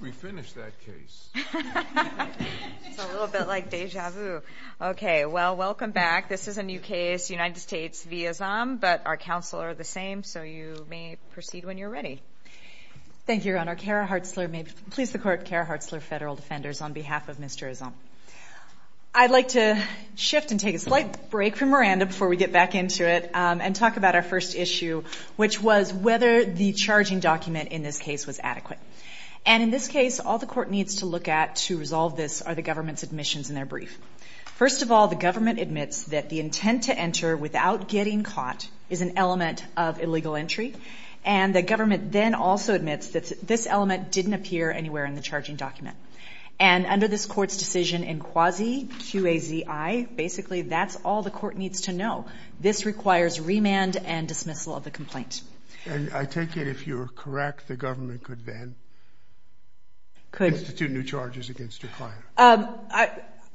We finished that case. It's a little bit like deja vu. Okay, well, welcome back. This is a new case, United States v. Azam, but our counsel are the same, so you may proceed when you're ready. Thank you, Your Honor. Kara Hartzler, may it please the Court. Kara Hartzler, Federal Defenders, on behalf of Mr. Azam. I'd like to shift and take a slight break from Miranda before we get back into it and talk about our first issue, which was whether the charging document in this case was adequate. And in this case, all the Court needs to look at to resolve this are the government's admissions and their brief. First of all, the government admits that the intent to enter without getting caught is an element of illegal entry, and the government then also admits that this element didn't appear anywhere in the charging document. And under this Court's decision in quasi-QAZI, basically that's all the Court needs to know. This requires remand and dismissal of the complaint. And I take it if you're correct, the government could then institute new charges against your client.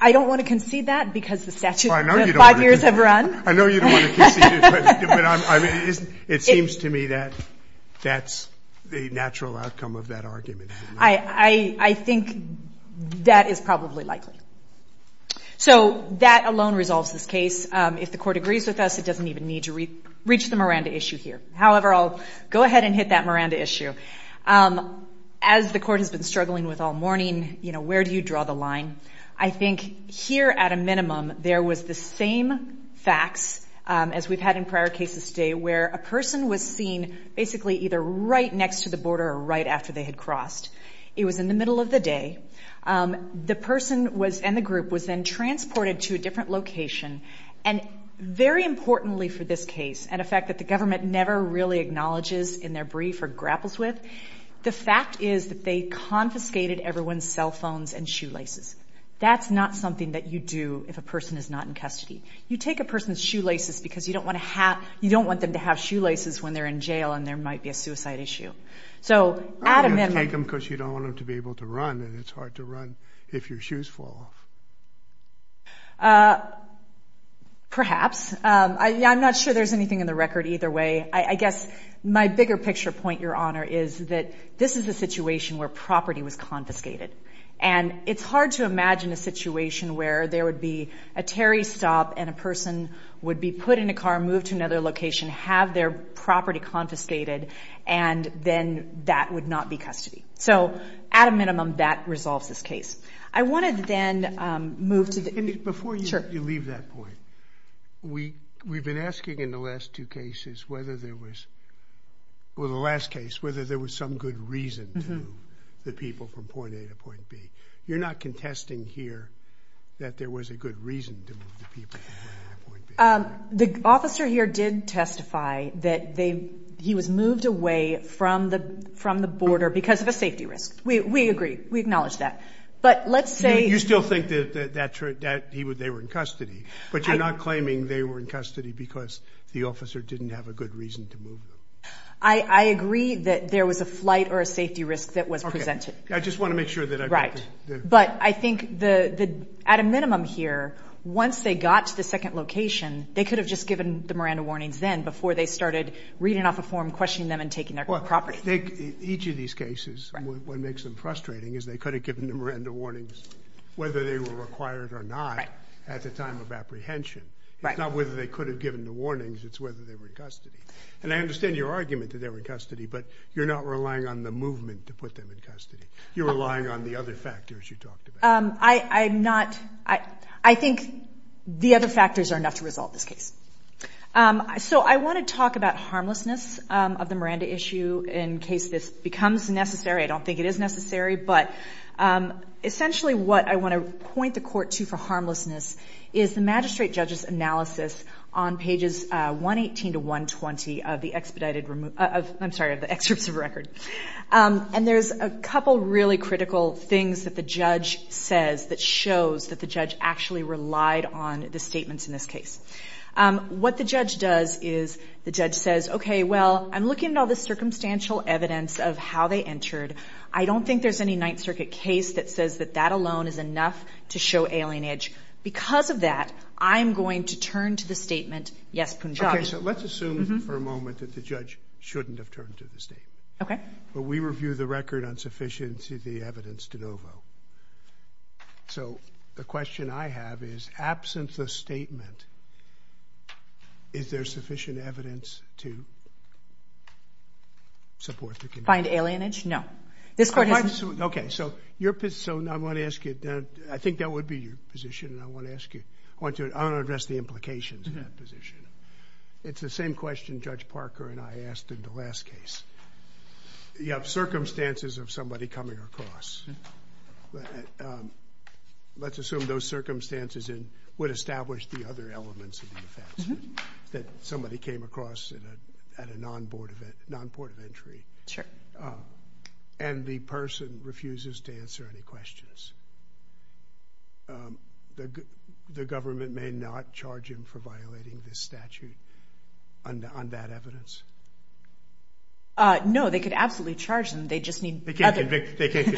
I don't want to concede that because the statute of five years have run. I know you don't want to concede it, but it seems to me that that's the natural outcome of that argument. I think that is probably likely. So that alone resolves this case. If the Court agrees with us, it doesn't even need to reach the Miranda issue here. However, I'll go ahead and hit that Miranda issue. As the Court has been struggling with all morning, you know, where do you draw the line? I think here at a minimum there was the same facts as we've had in prior cases today where a person was seen basically either right next to the border or right after they had crossed. It was in the middle of the day. The person and the group was then transported to a different location. And very importantly for this case, and a fact that the government never really acknowledges in their brief or grapples with, the fact is that they confiscated everyone's cell phones and shoelaces. That's not something that you do if a person is not in custody. You take a person's shoelaces because you don't want them to have shoelaces when they're in jail and there might be a suicide issue. You take them because you don't want them to be able to run, and it's hard to run if your shoes fall off. Perhaps. I'm not sure there's anything in the record either way. I guess my bigger picture point, Your Honor, is that this is a situation where property was confiscated. And it's hard to imagine a situation where there would be a Terry stop and a person would be put in a car, moved to another location, have their property confiscated, and then that would not be custody. So at a minimum, that resolves this case. I want to then move to the… Before you leave that point, we've been asking in the last two cases whether there was, well, the last case, whether there was some good reason to move the people from point A to point B. You're not contesting here that there was a good reason to move the people from point A to point B. The officer here did testify that he was moved away from the border because of a safety risk. We agree. We acknowledge that. But let's say… You still think that they were in custody, but you're not claiming they were in custody because the officer didn't have a good reason to move them. I agree that there was a flight or a safety risk that was presented. I just want to make sure that I… Right. But I think at a minimum here, once they got to the second location, they could have just given the Miranda warnings then before they started reading off a form, questioning them, and taking their property. Each of these cases, what makes them frustrating is they could have given the Miranda warnings, whether they were required or not, at the time of apprehension. It's not whether they could have given the warnings. It's whether they were in custody. And I understand your argument that they were in custody, but you're not relying on the movement to put them in custody. You're relying on the other factors you talked about. I'm not. I think the other factors are enough to resolve this case. So I want to talk about harmlessness of the Miranda issue in case this becomes necessary. I don't think it is necessary, but essentially what I want to point the court to for harmlessness is the magistrate judge's analysis on pages 118 to 120 of the excerpts of record. And there's a couple of really critical things that the judge says that shows that the judge actually relied on the statements in this case. What the judge does is the judge says, okay, well, I'm looking at all this circumstantial evidence of how they entered. I don't think there's any Ninth Circuit case that says that that alone is enough to show alienage. Because of that, I'm going to turn to the statement, yes, Punjab. Okay, so let's assume for a moment that the judge shouldn't have turned to the statement. Okay. But we review the record on sufficiency of the evidence de novo. So the question I have is, absence of statement, is there sufficient evidence to support the conviction? Find alienage? No. Okay, so I want to ask you, I think that would be your position, and I want to ask you, I want to address the implications of that position. It's the same question Judge Parker and I asked in the last case. You have circumstances of somebody coming across. Let's assume those circumstances would establish the other elements of the offense, that somebody came across at a non-port of entry. Sure. And the person refuses to answer any questions. The government may not charge him for violating this statute on that evidence? No, they could absolutely charge him. They just need other evidence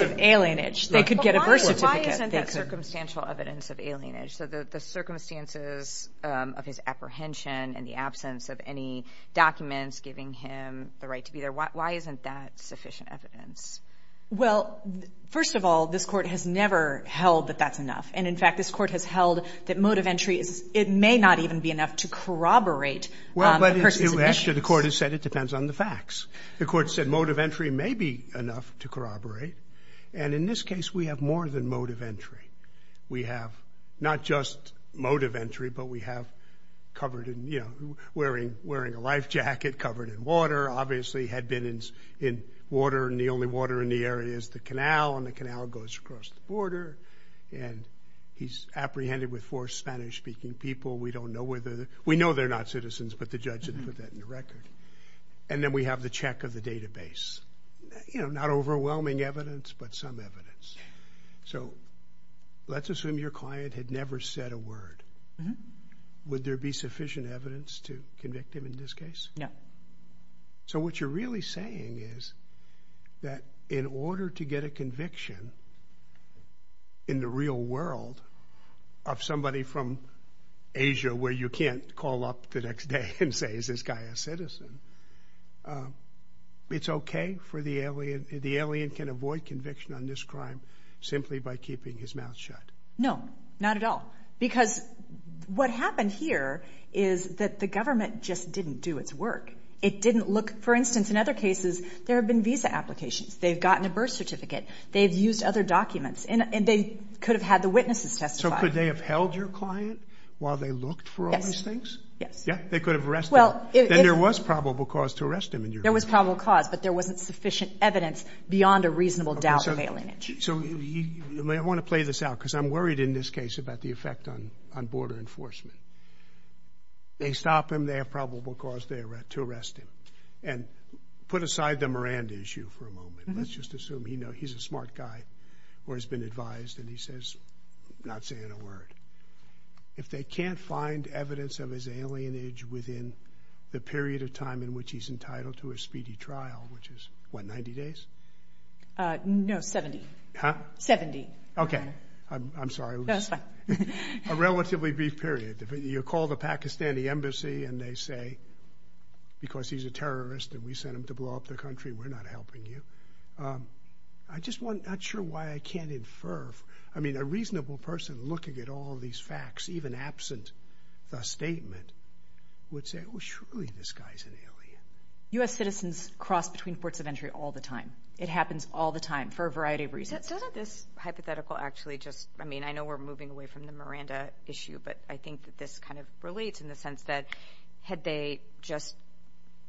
of alienage. They could get a birth certificate. Why isn't that circumstantial evidence of alienage? So the circumstances of his apprehension and the absence of any documents giving him the right to be there, why isn't that sufficient evidence? Well, first of all, this Court has never held that that's enough. And, in fact, this Court has held that mode of entry, it may not even be enough to corroborate the person's admissions. Well, actually, the Court has said it depends on the facts. The Court said mode of entry may be enough to corroborate, and in this case we have more than mode of entry. We have not just mode of entry, but we have covered in, you know, wearing a life jacket, covered in water, obviously had been in water, and the only water in the area is the canal, and the canal goes across the border, and he's apprehended with four Spanish-speaking people. We don't know whether they're – we know they're not citizens, but the judge didn't put that in the record. And then we have the check of the database. You know, not overwhelming evidence, but some evidence. So let's assume your client had never said a word. Would there be sufficient evidence to convict him in this case? No. So what you're really saying is that in order to get a conviction in the real world of somebody from Asia where you can't call up the next day and say, is this guy a citizen, it's okay for the alien – the alien can avoid conviction on this crime simply by keeping his mouth shut. No, not at all. Because what happened here is that the government just didn't do its work. It didn't look – for instance, in other cases, there have been visa applications. They've gotten a birth certificate. They've used other documents. And they could have had the witnesses testify. So could they have held your client while they looked for all these things? Yeah, they could have arrested him. Then there was probable cause to arrest him in your case. There was probable cause, but there wasn't sufficient evidence beyond a reasonable doubt of alienage. So I want to play this out because I'm worried in this case about the effect on border enforcement. They stop him. They have probable cause to arrest him. And put aside the Miranda issue for a moment. Let's just assume he's a smart guy or has been advised, and he says, not saying a word. If they can't find evidence of his alienage within the period of time in which he's entitled to a speedy trial, which is, what, 90 days? No, 70. Okay. I'm sorry. No, it's fine. A relatively brief period. You call the Pakistani embassy and they say, because he's a terrorist and we sent him to blow up the country, we're not helping you. I'm just not sure why I can't infer. I mean, a reasonable person looking at all these facts, even absent the statement, would say, well, surely this guy's an alien. U.S. citizens cross between ports of entry all the time. It happens all the time for a variety of reasons. Doesn't this hypothetical actually just, I mean, I know we're moving away from the Miranda issue, but I think that this kind of relates in the sense that had they just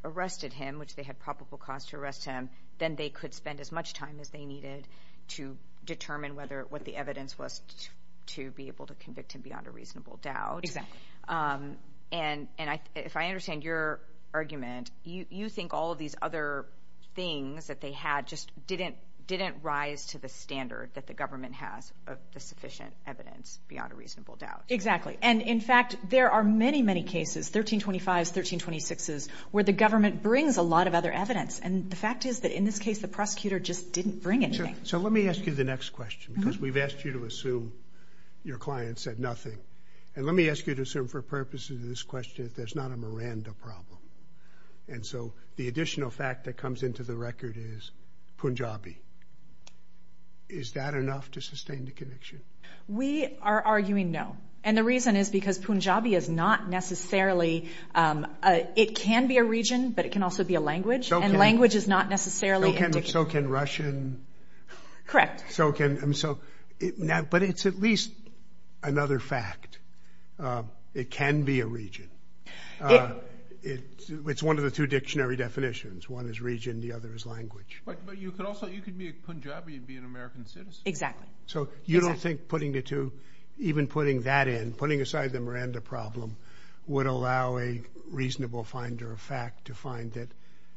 arrested him, which they had probable cause to arrest him, then they could spend as much time as they needed to determine what the evidence was to be able to convict him beyond a reasonable doubt. Exactly. And if I understand your argument, you think all of these other things that they had just didn't rise to the standard that the government has of the sufficient evidence beyond a reasonable doubt. Exactly. And in fact, there are many, many cases, 1325s, 1326s, where the government brings a lot of other evidence. And the fact is that in this case, the prosecutor just didn't bring anything. So let me ask you the next question, because we've asked you to assume your client said nothing. And let me ask you to assume for purposes of this question that there's not a Miranda problem. And so the additional fact that comes into the record is Punjabi. Is that enough to sustain the conviction? We are arguing no. And the reason is because Punjabi is not necessarily, it can be a region, but it can also be a language, and language is not necessarily indicative. So can Russian. Correct. But it's at least another fact. It can be a region. It's one of the two dictionary definitions. One is region, the other is language. But you could also, you could be a Punjabi and be an American citizen. Exactly. So you don't think putting the two, even putting that in, putting aside the Miranda problem, would allow a reasonable finder of fact to find that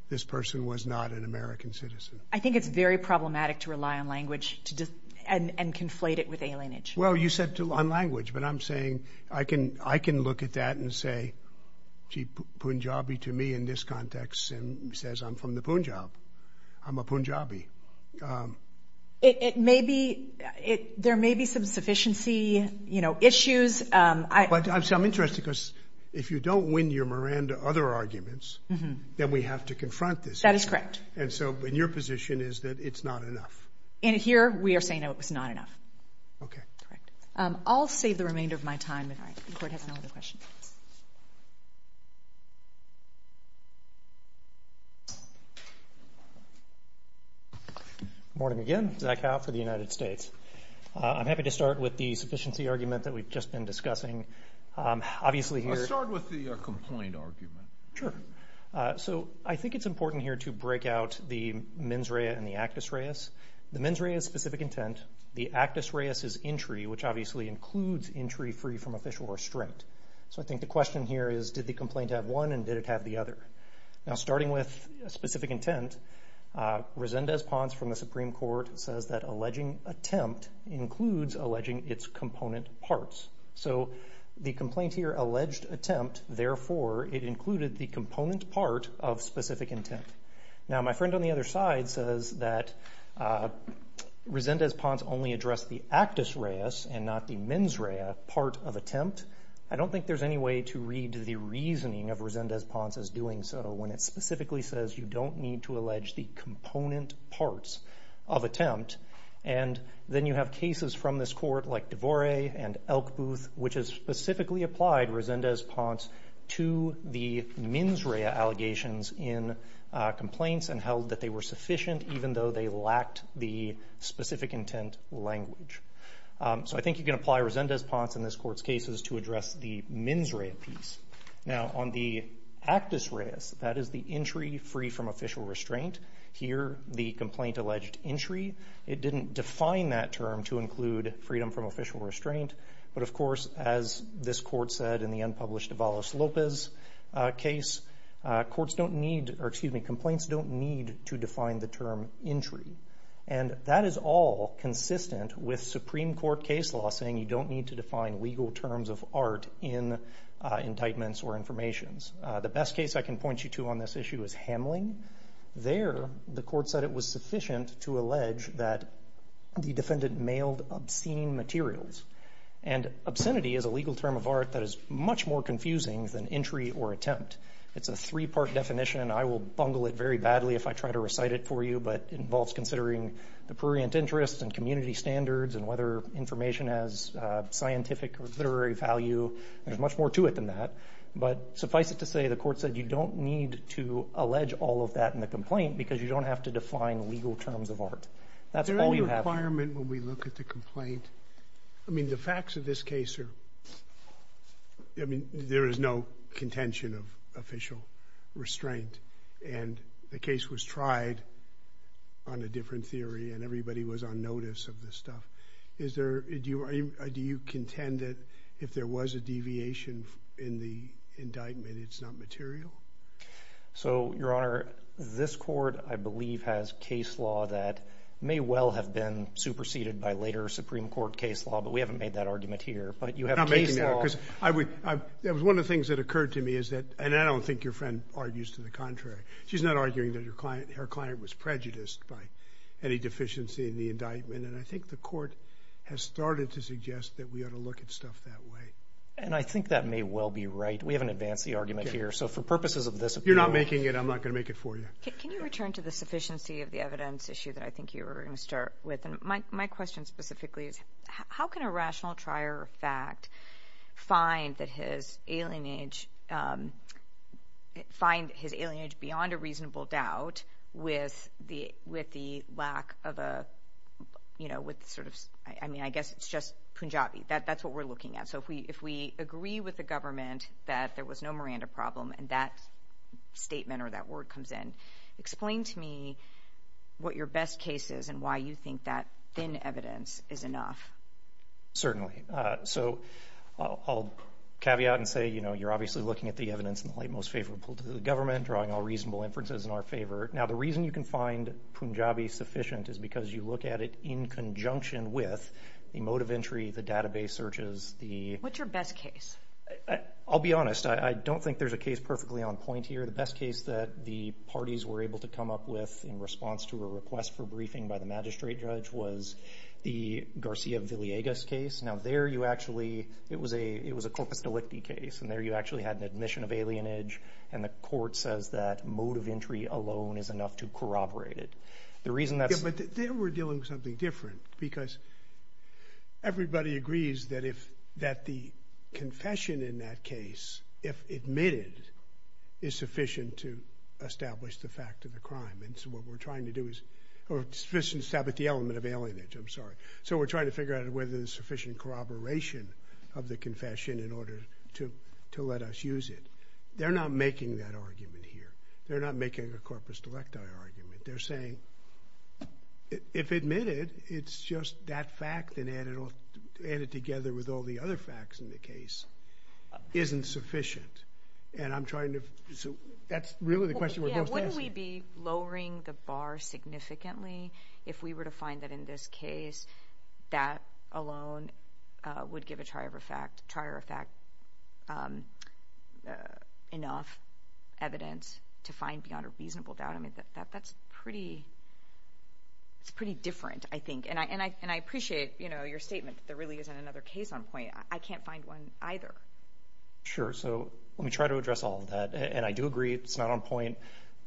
this person was not an American citizen? I think it's very problematic to rely on language and conflate it with alienation. Well, you said on language, but I'm saying I can look at that and say, gee, Punjabi to me in this context says I'm from the Punjab. I'm a Punjabi. It may be, there may be some sufficiency issues. But I'm interested because if you don't win your Miranda other arguments, then we have to confront this. That is correct. And so in your position is that it's not enough. And here we are saying no, it's not enough. Okay. I'll save the remainder of my time if the court has no other questions. Good morning again. Zach Howe for the United States. I'm happy to start with the sufficiency argument that we've just been discussing. I'll start with the complaint argument. Sure. So I think it's important here to break out the mens rea and the actus reas. The mens rea is specific intent. The actus reas is entry, which obviously includes entry free from official restraint. So I think the question here is did the complaint have one and did it have the other? Now, starting with specific intent, Resendez-Ponce from the Supreme Court says that alleging attempt includes alleging its component parts. So the complaint here alleged attempt, therefore it included the component part of specific intent. Now, my friend on the other side says that Resendez-Ponce only addressed the actus reas and not the mens rea part of attempt. I don't think there's any way to read the reasoning of Resendez-Ponce as doing so when it specifically says you don't need to allege the component parts of attempt. And then you have cases from this court like DeVore and Elk Booth, which has specifically applied Resendez-Ponce to the mens rea allegations in complaints and held that they were sufficient even though they lacked the specific intent language. So I think you can apply Resendez-Ponce in this court's cases to address the mens rea piece. Now, on the actus reas, that is the entry free from official restraint, here the complaint alleged entry, it didn't define that term to include freedom from official restraint. But, of course, as this court said in the unpublished Lopez case, complaints don't need to define the term entry. And that is all consistent with Supreme Court case law saying you don't need to define legal terms of art in indictments or informations. The best case I can point you to on this issue is Hamling. There the court said it was sufficient to allege that the defendant mailed obscene materials. And obscenity is a legal term of art that is much more confusing than entry or attempt. It's a three-part definition. I will bungle it very badly if I try to recite it for you, but it involves considering the prurient interests and community standards and whether information has scientific or literary value. There's much more to it than that. But suffice it to say the court said you don't need to allege all of that in the complaint because you don't have to define legal terms of art. That's all you have to do. Is there any requirement when we look at the complaint? I mean, the facts of this case are – I mean, there is no contention of official restraint. And the case was tried on a different theory and everybody was on notice of this stuff. Do you contend that if there was a deviation in the indictment, it's not material? So, Your Honor, this court, I believe, has case law that may well have been superseded by later Supreme Court case law, but we haven't made that argument here. But you have case law. I'm not making that because that was one of the things that occurred to me is that – and I don't think your friend argues to the contrary. She's not arguing that her client was prejudiced by any deficiency in the indictment. And I think the court has started to suggest that we ought to look at stuff that way. And I think that may well be right. We haven't advanced the argument here. So for purposes of this appeal – You're not making it. I'm not going to make it for you. Can you return to the sufficiency of the evidence issue that I think you were going to start with? And my question specifically is, how can a rational trier of fact find that his alienage beyond a reasonable doubt with the lack of a – I mean, I guess it's just Punjabi. That's what we're looking at. So if we agree with the government that there was no Miranda problem and that statement or that word comes in, explain to me what your best case is and why you think that thin evidence is enough. So I'll caveat and say, you know, you're obviously looking at the evidence in the light most favorable to the government, drawing all reasonable inferences in our favor. Now, the reason you can find Punjabi sufficient is because you look at it in conjunction with the mode of entry, the database searches, the – What's your best case? I'll be honest. I don't think there's a case perfectly on point here. The best case that the parties were able to come up with in response to a request for briefing by the magistrate judge was the Garcia Villegas case. Now, there you actually – it was a corpus delicti case, and there you actually had an admission of alienage, and the court says that mode of entry alone is enough to corroborate it. The reason that's – Yeah, but there we're dealing with something different because everybody agrees that if – that the confession in that case, if admitted, is sufficient to establish the fact of the crime. And so what we're trying to do is – sufficient to establish the element of alienage, I'm sorry. So we're trying to figure out whether there's sufficient corroboration of the confession in order to let us use it. They're not making that argument here. They're not making a corpus delicti argument. They're saying if admitted, it's just that fact and add it together with all the other facts in the case isn't sufficient. And I'm trying to – so that's really the question we're both asking. Yeah, wouldn't we be lowering the bar significantly if we were to find that in this case, that alone would give a trier of fact enough evidence to find beyond a reasonable doubt? I mean, that's pretty – it's pretty different, I think. And I appreciate, you know, your statement that there really isn't another case on point. I can't find one either. Sure, so let me try to address all of that. And I do agree it's not on point.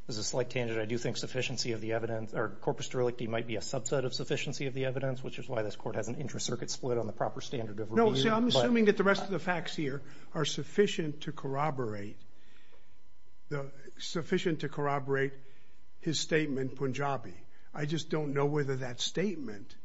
There's a slight tangent. I do think sufficiency of the evidence – or corpus delicti might be a subset of sufficiency of the evidence, which is why this court has an intracircuit split on the proper standard of review. No, see, I'm assuming that the rest of the facts here are sufficient to corroborate the – sufficient to corroborate his statement, Punjabi. I just don't know whether that statement,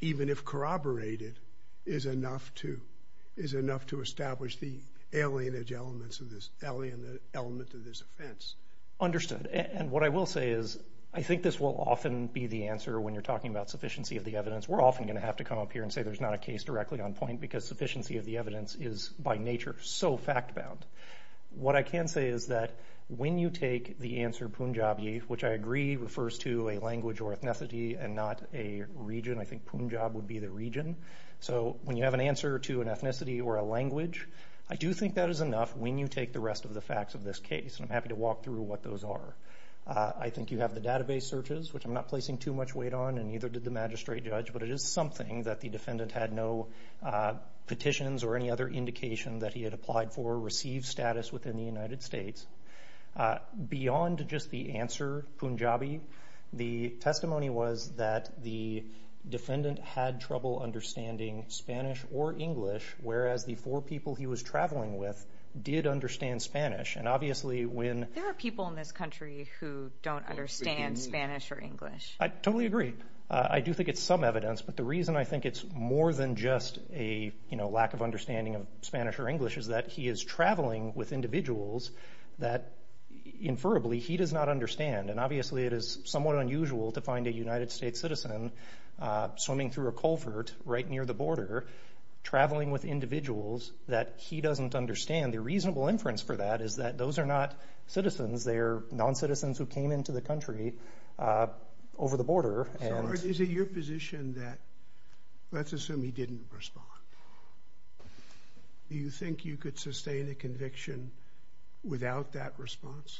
even if corroborated, is enough to – is enough to establish the alienage elements of this – element of this offense. Understood. And what I will say is I think this will often be the answer when you're talking about sufficiency of the evidence. We're often going to have to come up here and say there's not a case directly on point because sufficiency of the evidence is, by nature, so fact-bound. What I can say is that when you take the answer Punjabi, which I agree refers to a language or ethnicity and not a region. I think Punjab would be the region. So when you have an answer to an ethnicity or a language, I do think that is enough when you take the rest of the facts of this case. And I'm happy to walk through what those are. I think you have the database searches, which I'm not placing too much weight on, and neither did the magistrate judge, but it is something that the defendant had no petitions or any other indication that he had applied for or received status within the United States. Beyond just the answer Punjabi, the testimony was that the defendant had trouble understanding Spanish or English, whereas the four people he was traveling with did understand Spanish. And obviously when – There are people in this country who don't understand Spanish or English. I totally agree. I do think it's some evidence, but the reason I think it's more than just a lack of understanding of Spanish or English is that he is traveling with individuals that, inferably, he does not understand. And obviously it is somewhat unusual to find a United States citizen swimming through a culvert right near the border, traveling with individuals that he doesn't understand. The reasonable inference for that is that those are not citizens. They are noncitizens who came into the country over the border. So is it your position that – let's assume he didn't respond. Do you think you could sustain a conviction without that response?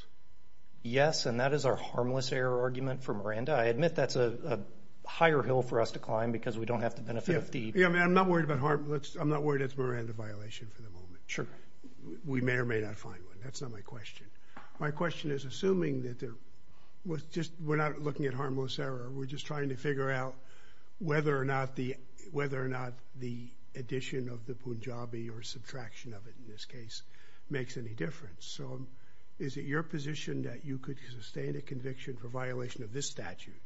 Yes, and that is our harmless error argument for Miranda. I admit that's a higher hill for us to climb because we don't have the benefit of the – Yeah, I mean, I'm not worried about – I'm not worried it's a Miranda violation for the moment. Sure. We may or may not find one. That's not my question. My question is assuming that there – we're not looking at harmless error. We're just trying to figure out whether or not the addition of the Punjabi or subtraction of it in this case makes any difference. So is it your position that you could sustain a conviction for violation of this statute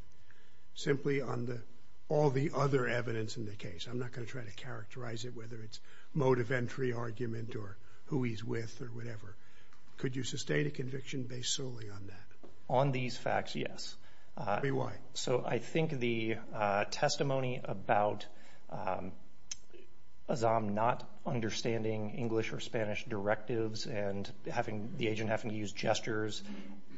simply on all the other evidence in the case? I'm not going to try to characterize it, whether it's motive entry argument or who he's with or whatever. Could you sustain a conviction based solely on that? On these facts, yes. Tell me why. So I think the testimony about Azzam not understanding English or Spanish directives and having – the agent having to use gestures,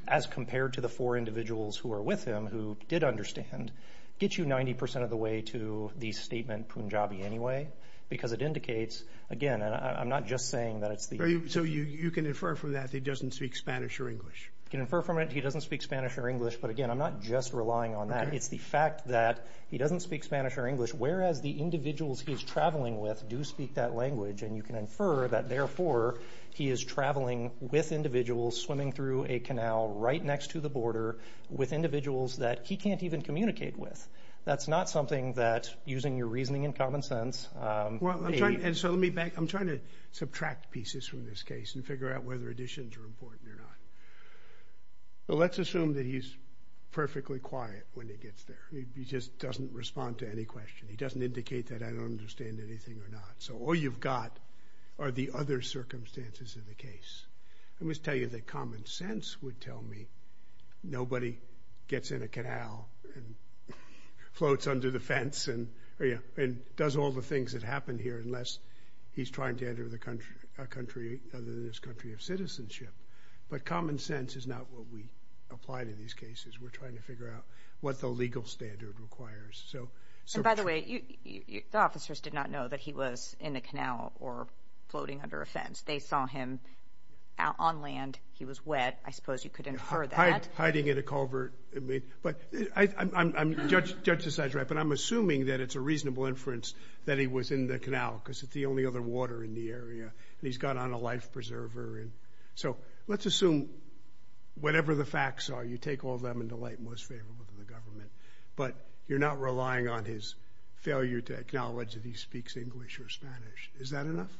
as compared to the four individuals who are with him who did understand, gets you 90 percent of the way to the statement Punjabi anyway because it indicates – again, I'm not just saying that it's the – So you can infer from that that he doesn't speak Spanish or English? You can infer from it he doesn't speak Spanish or English, but again, I'm not just relying on that. It's the fact that he doesn't speak Spanish or English, whereas the individuals he's traveling with do speak that language, and you can infer that therefore he is traveling with individuals, swimming through a canal right next to the border with individuals that he can't even communicate with. That's not something that, using your reasoning and common sense, Well, I'm trying – and so let me back – I'm trying to subtract pieces from this case and figure out whether additions are important or not. But let's assume that he's perfectly quiet when he gets there. He just doesn't respond to any question. He doesn't indicate that I don't understand anything or not. So all you've got are the other circumstances of the case. Let me just tell you that common sense would tell me nobody gets in a canal and floats under the fence and does all the things that happen here unless he's trying to enter a country other than this country of citizenship. But common sense is not what we apply to these cases. We're trying to figure out what the legal standard requires. By the way, the officers did not know that he was in a canal or floating under a fence. They saw him on land. He was wet. I suppose you could infer that. Hiding in a culvert. The judge decides, right, but I'm assuming that it's a reasonable inference that he was in the canal because it's the only other water in the area. He's got on a life preserver. So let's assume whatever the facts are, you take all of them into light and what's favorable to the government, but you're not relying on his failure to acknowledge that he speaks English or Spanish. Is that enough?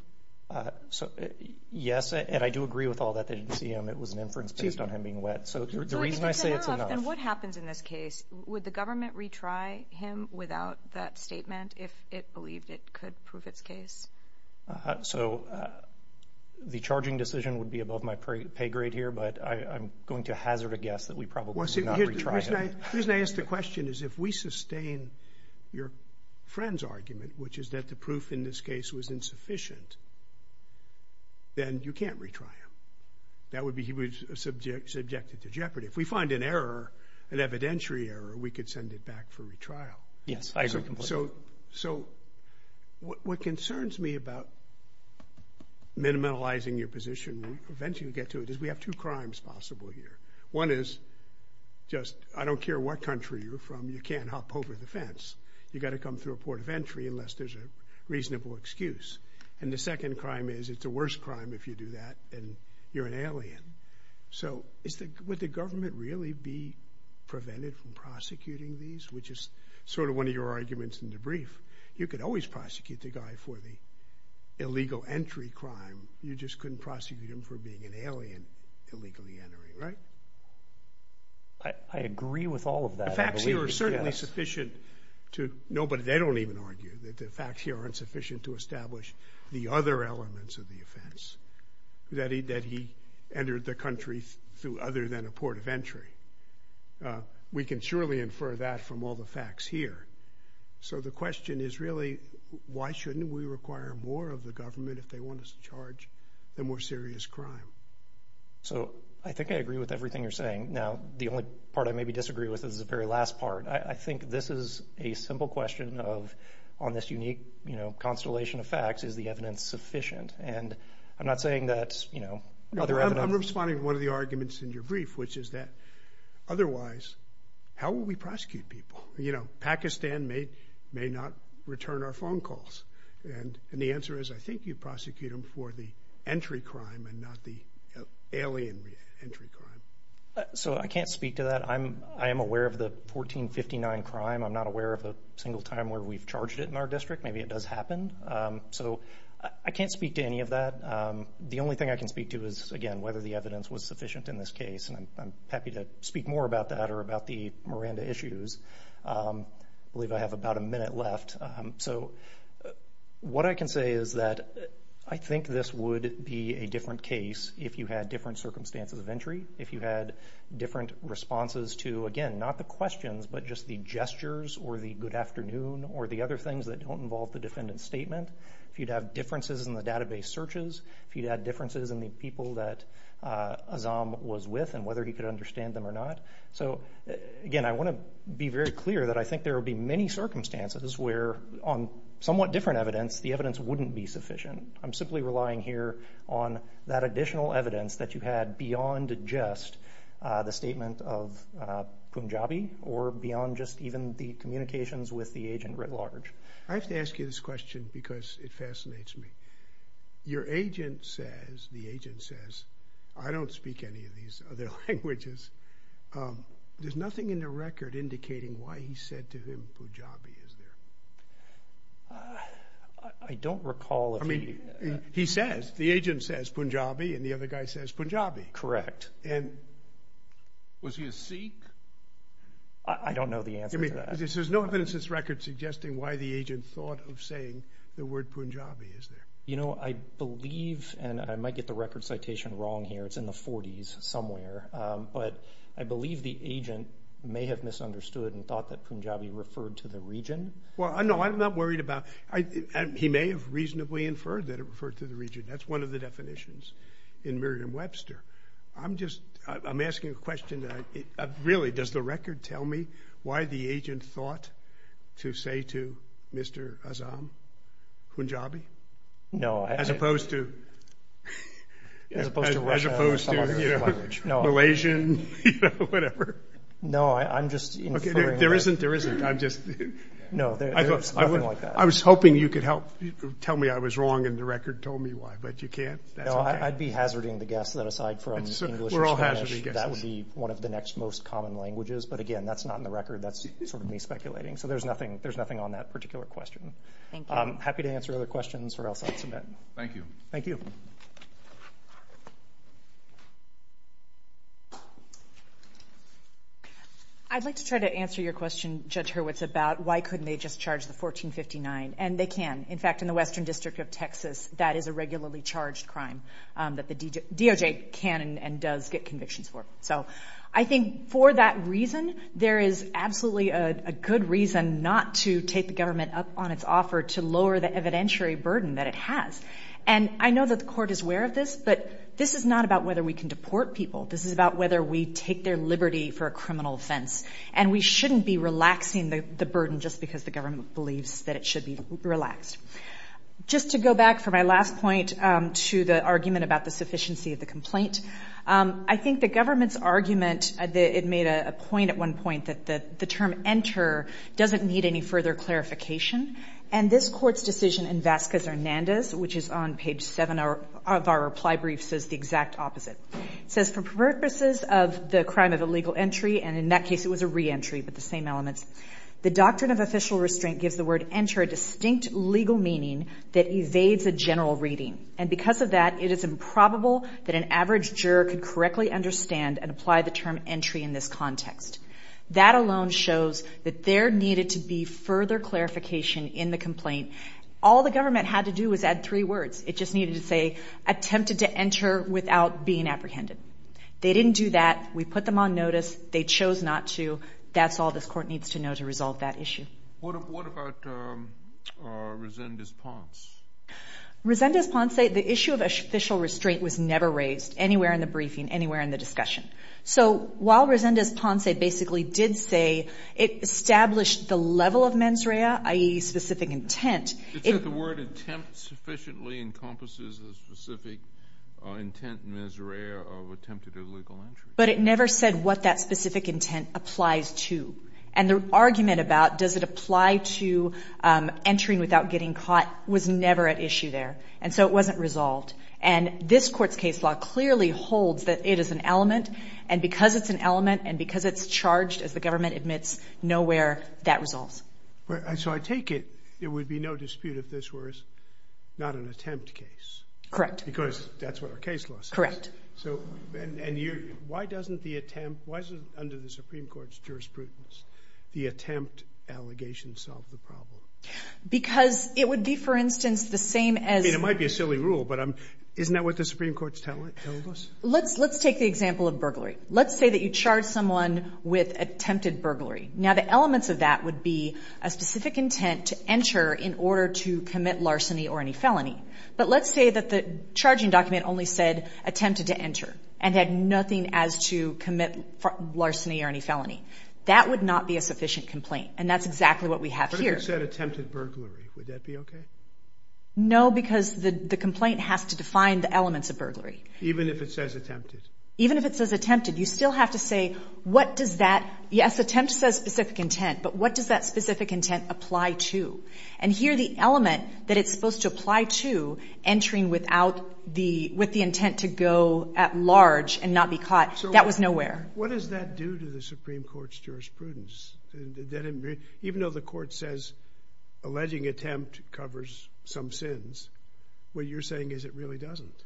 Yes, and I do agree with all that. They didn't see him. It was an inference based on him being wet. So the reason I say it's enough. If it's enough, then what happens in this case? Would the government retry him without that statement if it believed it could prove its case? So the charging decision would be above my pay grade here, but I'm going to hazard a guess that we probably would not retry him. The reason I ask the question is if we sustain your friend's argument, which is that the proof in this case was insufficient, then you can't retry him. That would be he was subjected to jeopardy. If we find an error, an evidentiary error, we could send it back for retrial. Yes, I agree completely. So what concerns me about minimalizing your position and eventually get to it is we have two crimes possible here. One is just I don't care what country you're from, you can't hop over the fence. You've got to come through a port of entry unless there's a reasonable excuse. And the second crime is it's a worse crime if you do that and you're an alien. So would the government really be prevented from prosecuting these, which is sort of one of your arguments in the brief? You could always prosecute the guy for the illegal entry crime. You just couldn't prosecute him for being an alien illegally entering, right? I agree with all of that. The facts here are certainly sufficient to know, but they don't even argue that the facts here aren't sufficient to establish the other elements of the offense that he entered the country through other than a port of entry. We can surely infer that from all the facts here. So the question is really why shouldn't we require more of the government if they want us to charge the more serious crime? So I think I agree with everything you're saying. Now, the only part I maybe disagree with is the very last part. I think this is a simple question on this unique constellation of facts. Is the evidence sufficient? And I'm not saying that other evidence… I'm responding to one of the arguments in your brief, which is that otherwise how will we prosecute people? Pakistan may not return our phone calls. And the answer is I think you prosecute them for the entry crime and not the alien entry crime. So I can't speak to that. I am aware of the 1459 crime. I'm not aware of a single time where we've charged it in our district. Maybe it does happen. So I can't speak to any of that. The only thing I can speak to is, again, whether the evidence was sufficient in this case. And I'm happy to speak more about that or about the Miranda issues. I believe I have about a minute left. So what I can say is that I think this would be a different case if you had different circumstances of entry, if you had different responses to, again, not the questions, but just the gestures or the good afternoon or the other things that don't involve the defendant's statement, if you'd have differences in the database searches, if you'd have differences in the people that Azzam was with and whether he could understand them or not. So, again, I want to be very clear that I think there would be many circumstances where on somewhat different evidence the evidence wouldn't be sufficient. I'm simply relying here on that additional evidence that you had beyond just the statement of Punjabi or beyond just even the communications with the agent writ large. I have to ask you this question because it fascinates me. Your agent says, the agent says, I don't speak any of these other languages. There's nothing in the record indicating why he said to him Punjabi, is there? I don't recall if he... He says, the agent says Punjabi and the other guy says Punjabi. And was he a Sikh? I don't know the answer to that. There's no evidence in this record suggesting why the agent thought of saying the word Punjabi, is there? You know, I believe, and I might get the record citation wrong here, it's in the 40s somewhere, but I believe the agent may have misunderstood and thought that Punjabi referred to the region. Well, no, I'm not worried about... He may have reasonably inferred that it referred to the region. That's one of the definitions in Merriam-Webster. I'm just... I'm asking a question that... Really, does the record tell me why the agent thought to say to Mr. Azam, Punjabi? No, I... As opposed to... As opposed to Russia or some other language. As opposed to, you know, Malaysian, you know, whatever. No, I'm just inferring... There isn't, there isn't. I'm just... No, there's nothing like that. I was hoping you could help tell me I was wrong and the record told me why, but you can't. No, I'd be hazarding the guess that aside from English and Spanish... We're all hazarding guesses. ...that would be one of the next most common languages. But again, that's not in the record. That's sort of me speculating. So there's nothing on that particular question. Thank you. Happy to answer other questions or else I'll submit. Thank you. Thank you. I'd like to try to answer your question, Judge Hurwitz, about why couldn't they just charge the 1459? And they can. In fact, in the Western District of Texas, that is a regularly charged crime that the DOJ can and does get convictions for. So I think for that reason, there is absolutely a good reason not to take the government up on its offer to lower the evidentiary burden that it has. And I know that the court is aware of this, but this is not about whether we can deport people. This is about whether we take their liberty for a criminal offense. And we shouldn't be relaxing the burden just because the government believes that it should be relaxed. Just to go back for my last point to the argument about the sufficiency of the complaint, I think the government's argument, it made a point at one point that the term enter doesn't need any further clarification. And this court's decision in Vasquez-Hernandez, which is on page 7 of our reply brief, says the exact opposite. It says for purposes of the crime of illegal entry, and in that case it was a re-entry but the same elements, the doctrine of official restraint gives the word enter a distinct legal meaning that evades a general reading. And because of that, it is improbable that an average juror could correctly understand and apply the term entry in this context. That alone shows that there needed to be further clarification in the complaint. All the government had to do was add three words. It just needed to say attempted to enter without being apprehended. They didn't do that. We put them on notice. They chose not to. That's all this court needs to know to resolve that issue. What about Resendez-Ponce? Resendez-Ponce, the issue of official restraint was never raised, anywhere in the briefing, anywhere in the discussion. So while Resendez-Ponce basically did say it established the level of mens rea, i.e. specific intent. It said the word attempt sufficiently encompasses a specific intent mens rea of attempted illegal entry. But it never said what that specific intent applies to. And the argument about does it apply to entering without getting caught was never at issue there. And so it wasn't resolved. And this Court's case law clearly holds that it is an element, and because it's an element and because it's charged, as the government admits, nowhere that resolves. So I take it there would be no dispute if this were not an attempt case. Correct. Because that's what our case law says. And why doesn't the attempt, why doesn't under the Supreme Court's jurisprudence, the attempt allegation solve the problem? Because it would be, for instance, the same as... I mean, it might be a silly rule, but isn't that what the Supreme Court's telling us? Let's take the example of burglary. Let's say that you charge someone with attempted burglary. Now the elements of that would be a specific intent to enter in order to commit larceny or any felony. But let's say that the charging document only said attempted to enter and had nothing as to commit larceny or any felony. That would not be a sufficient complaint, and that's exactly what we have here. But if it said attempted burglary, would that be okay? No, because the complaint has to define the elements of burglary. Even if it says attempted? Even if it says attempted, you still have to say what does that... Yes, attempt says specific intent, but what does that specific intent apply to? And here the element that it's supposed to apply to, entering with the intent to go at large and not be caught, that was nowhere. What does that do to the Supreme Court's jurisprudence? Even though the court says alleging attempt covers some sins, what you're saying is it really doesn't.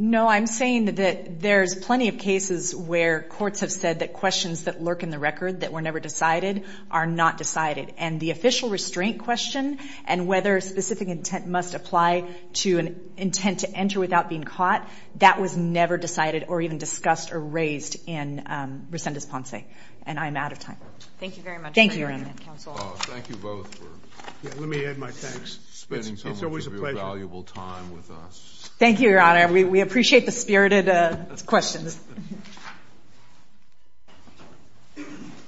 No, I'm saying that there's plenty of cases where courts have said that questions that lurk in the record that were never decided are not decided. And the official restraint question and whether specific intent must apply to an intent to enter without being caught, that was never decided or even discussed or raised in Rescindes Ponce. And I'm out of time. Thank you very much. Thank you, Your Honor. Thank you both for spending so much of your valuable time with us. Thank you, Your Honor. We appreciate the spirited questions.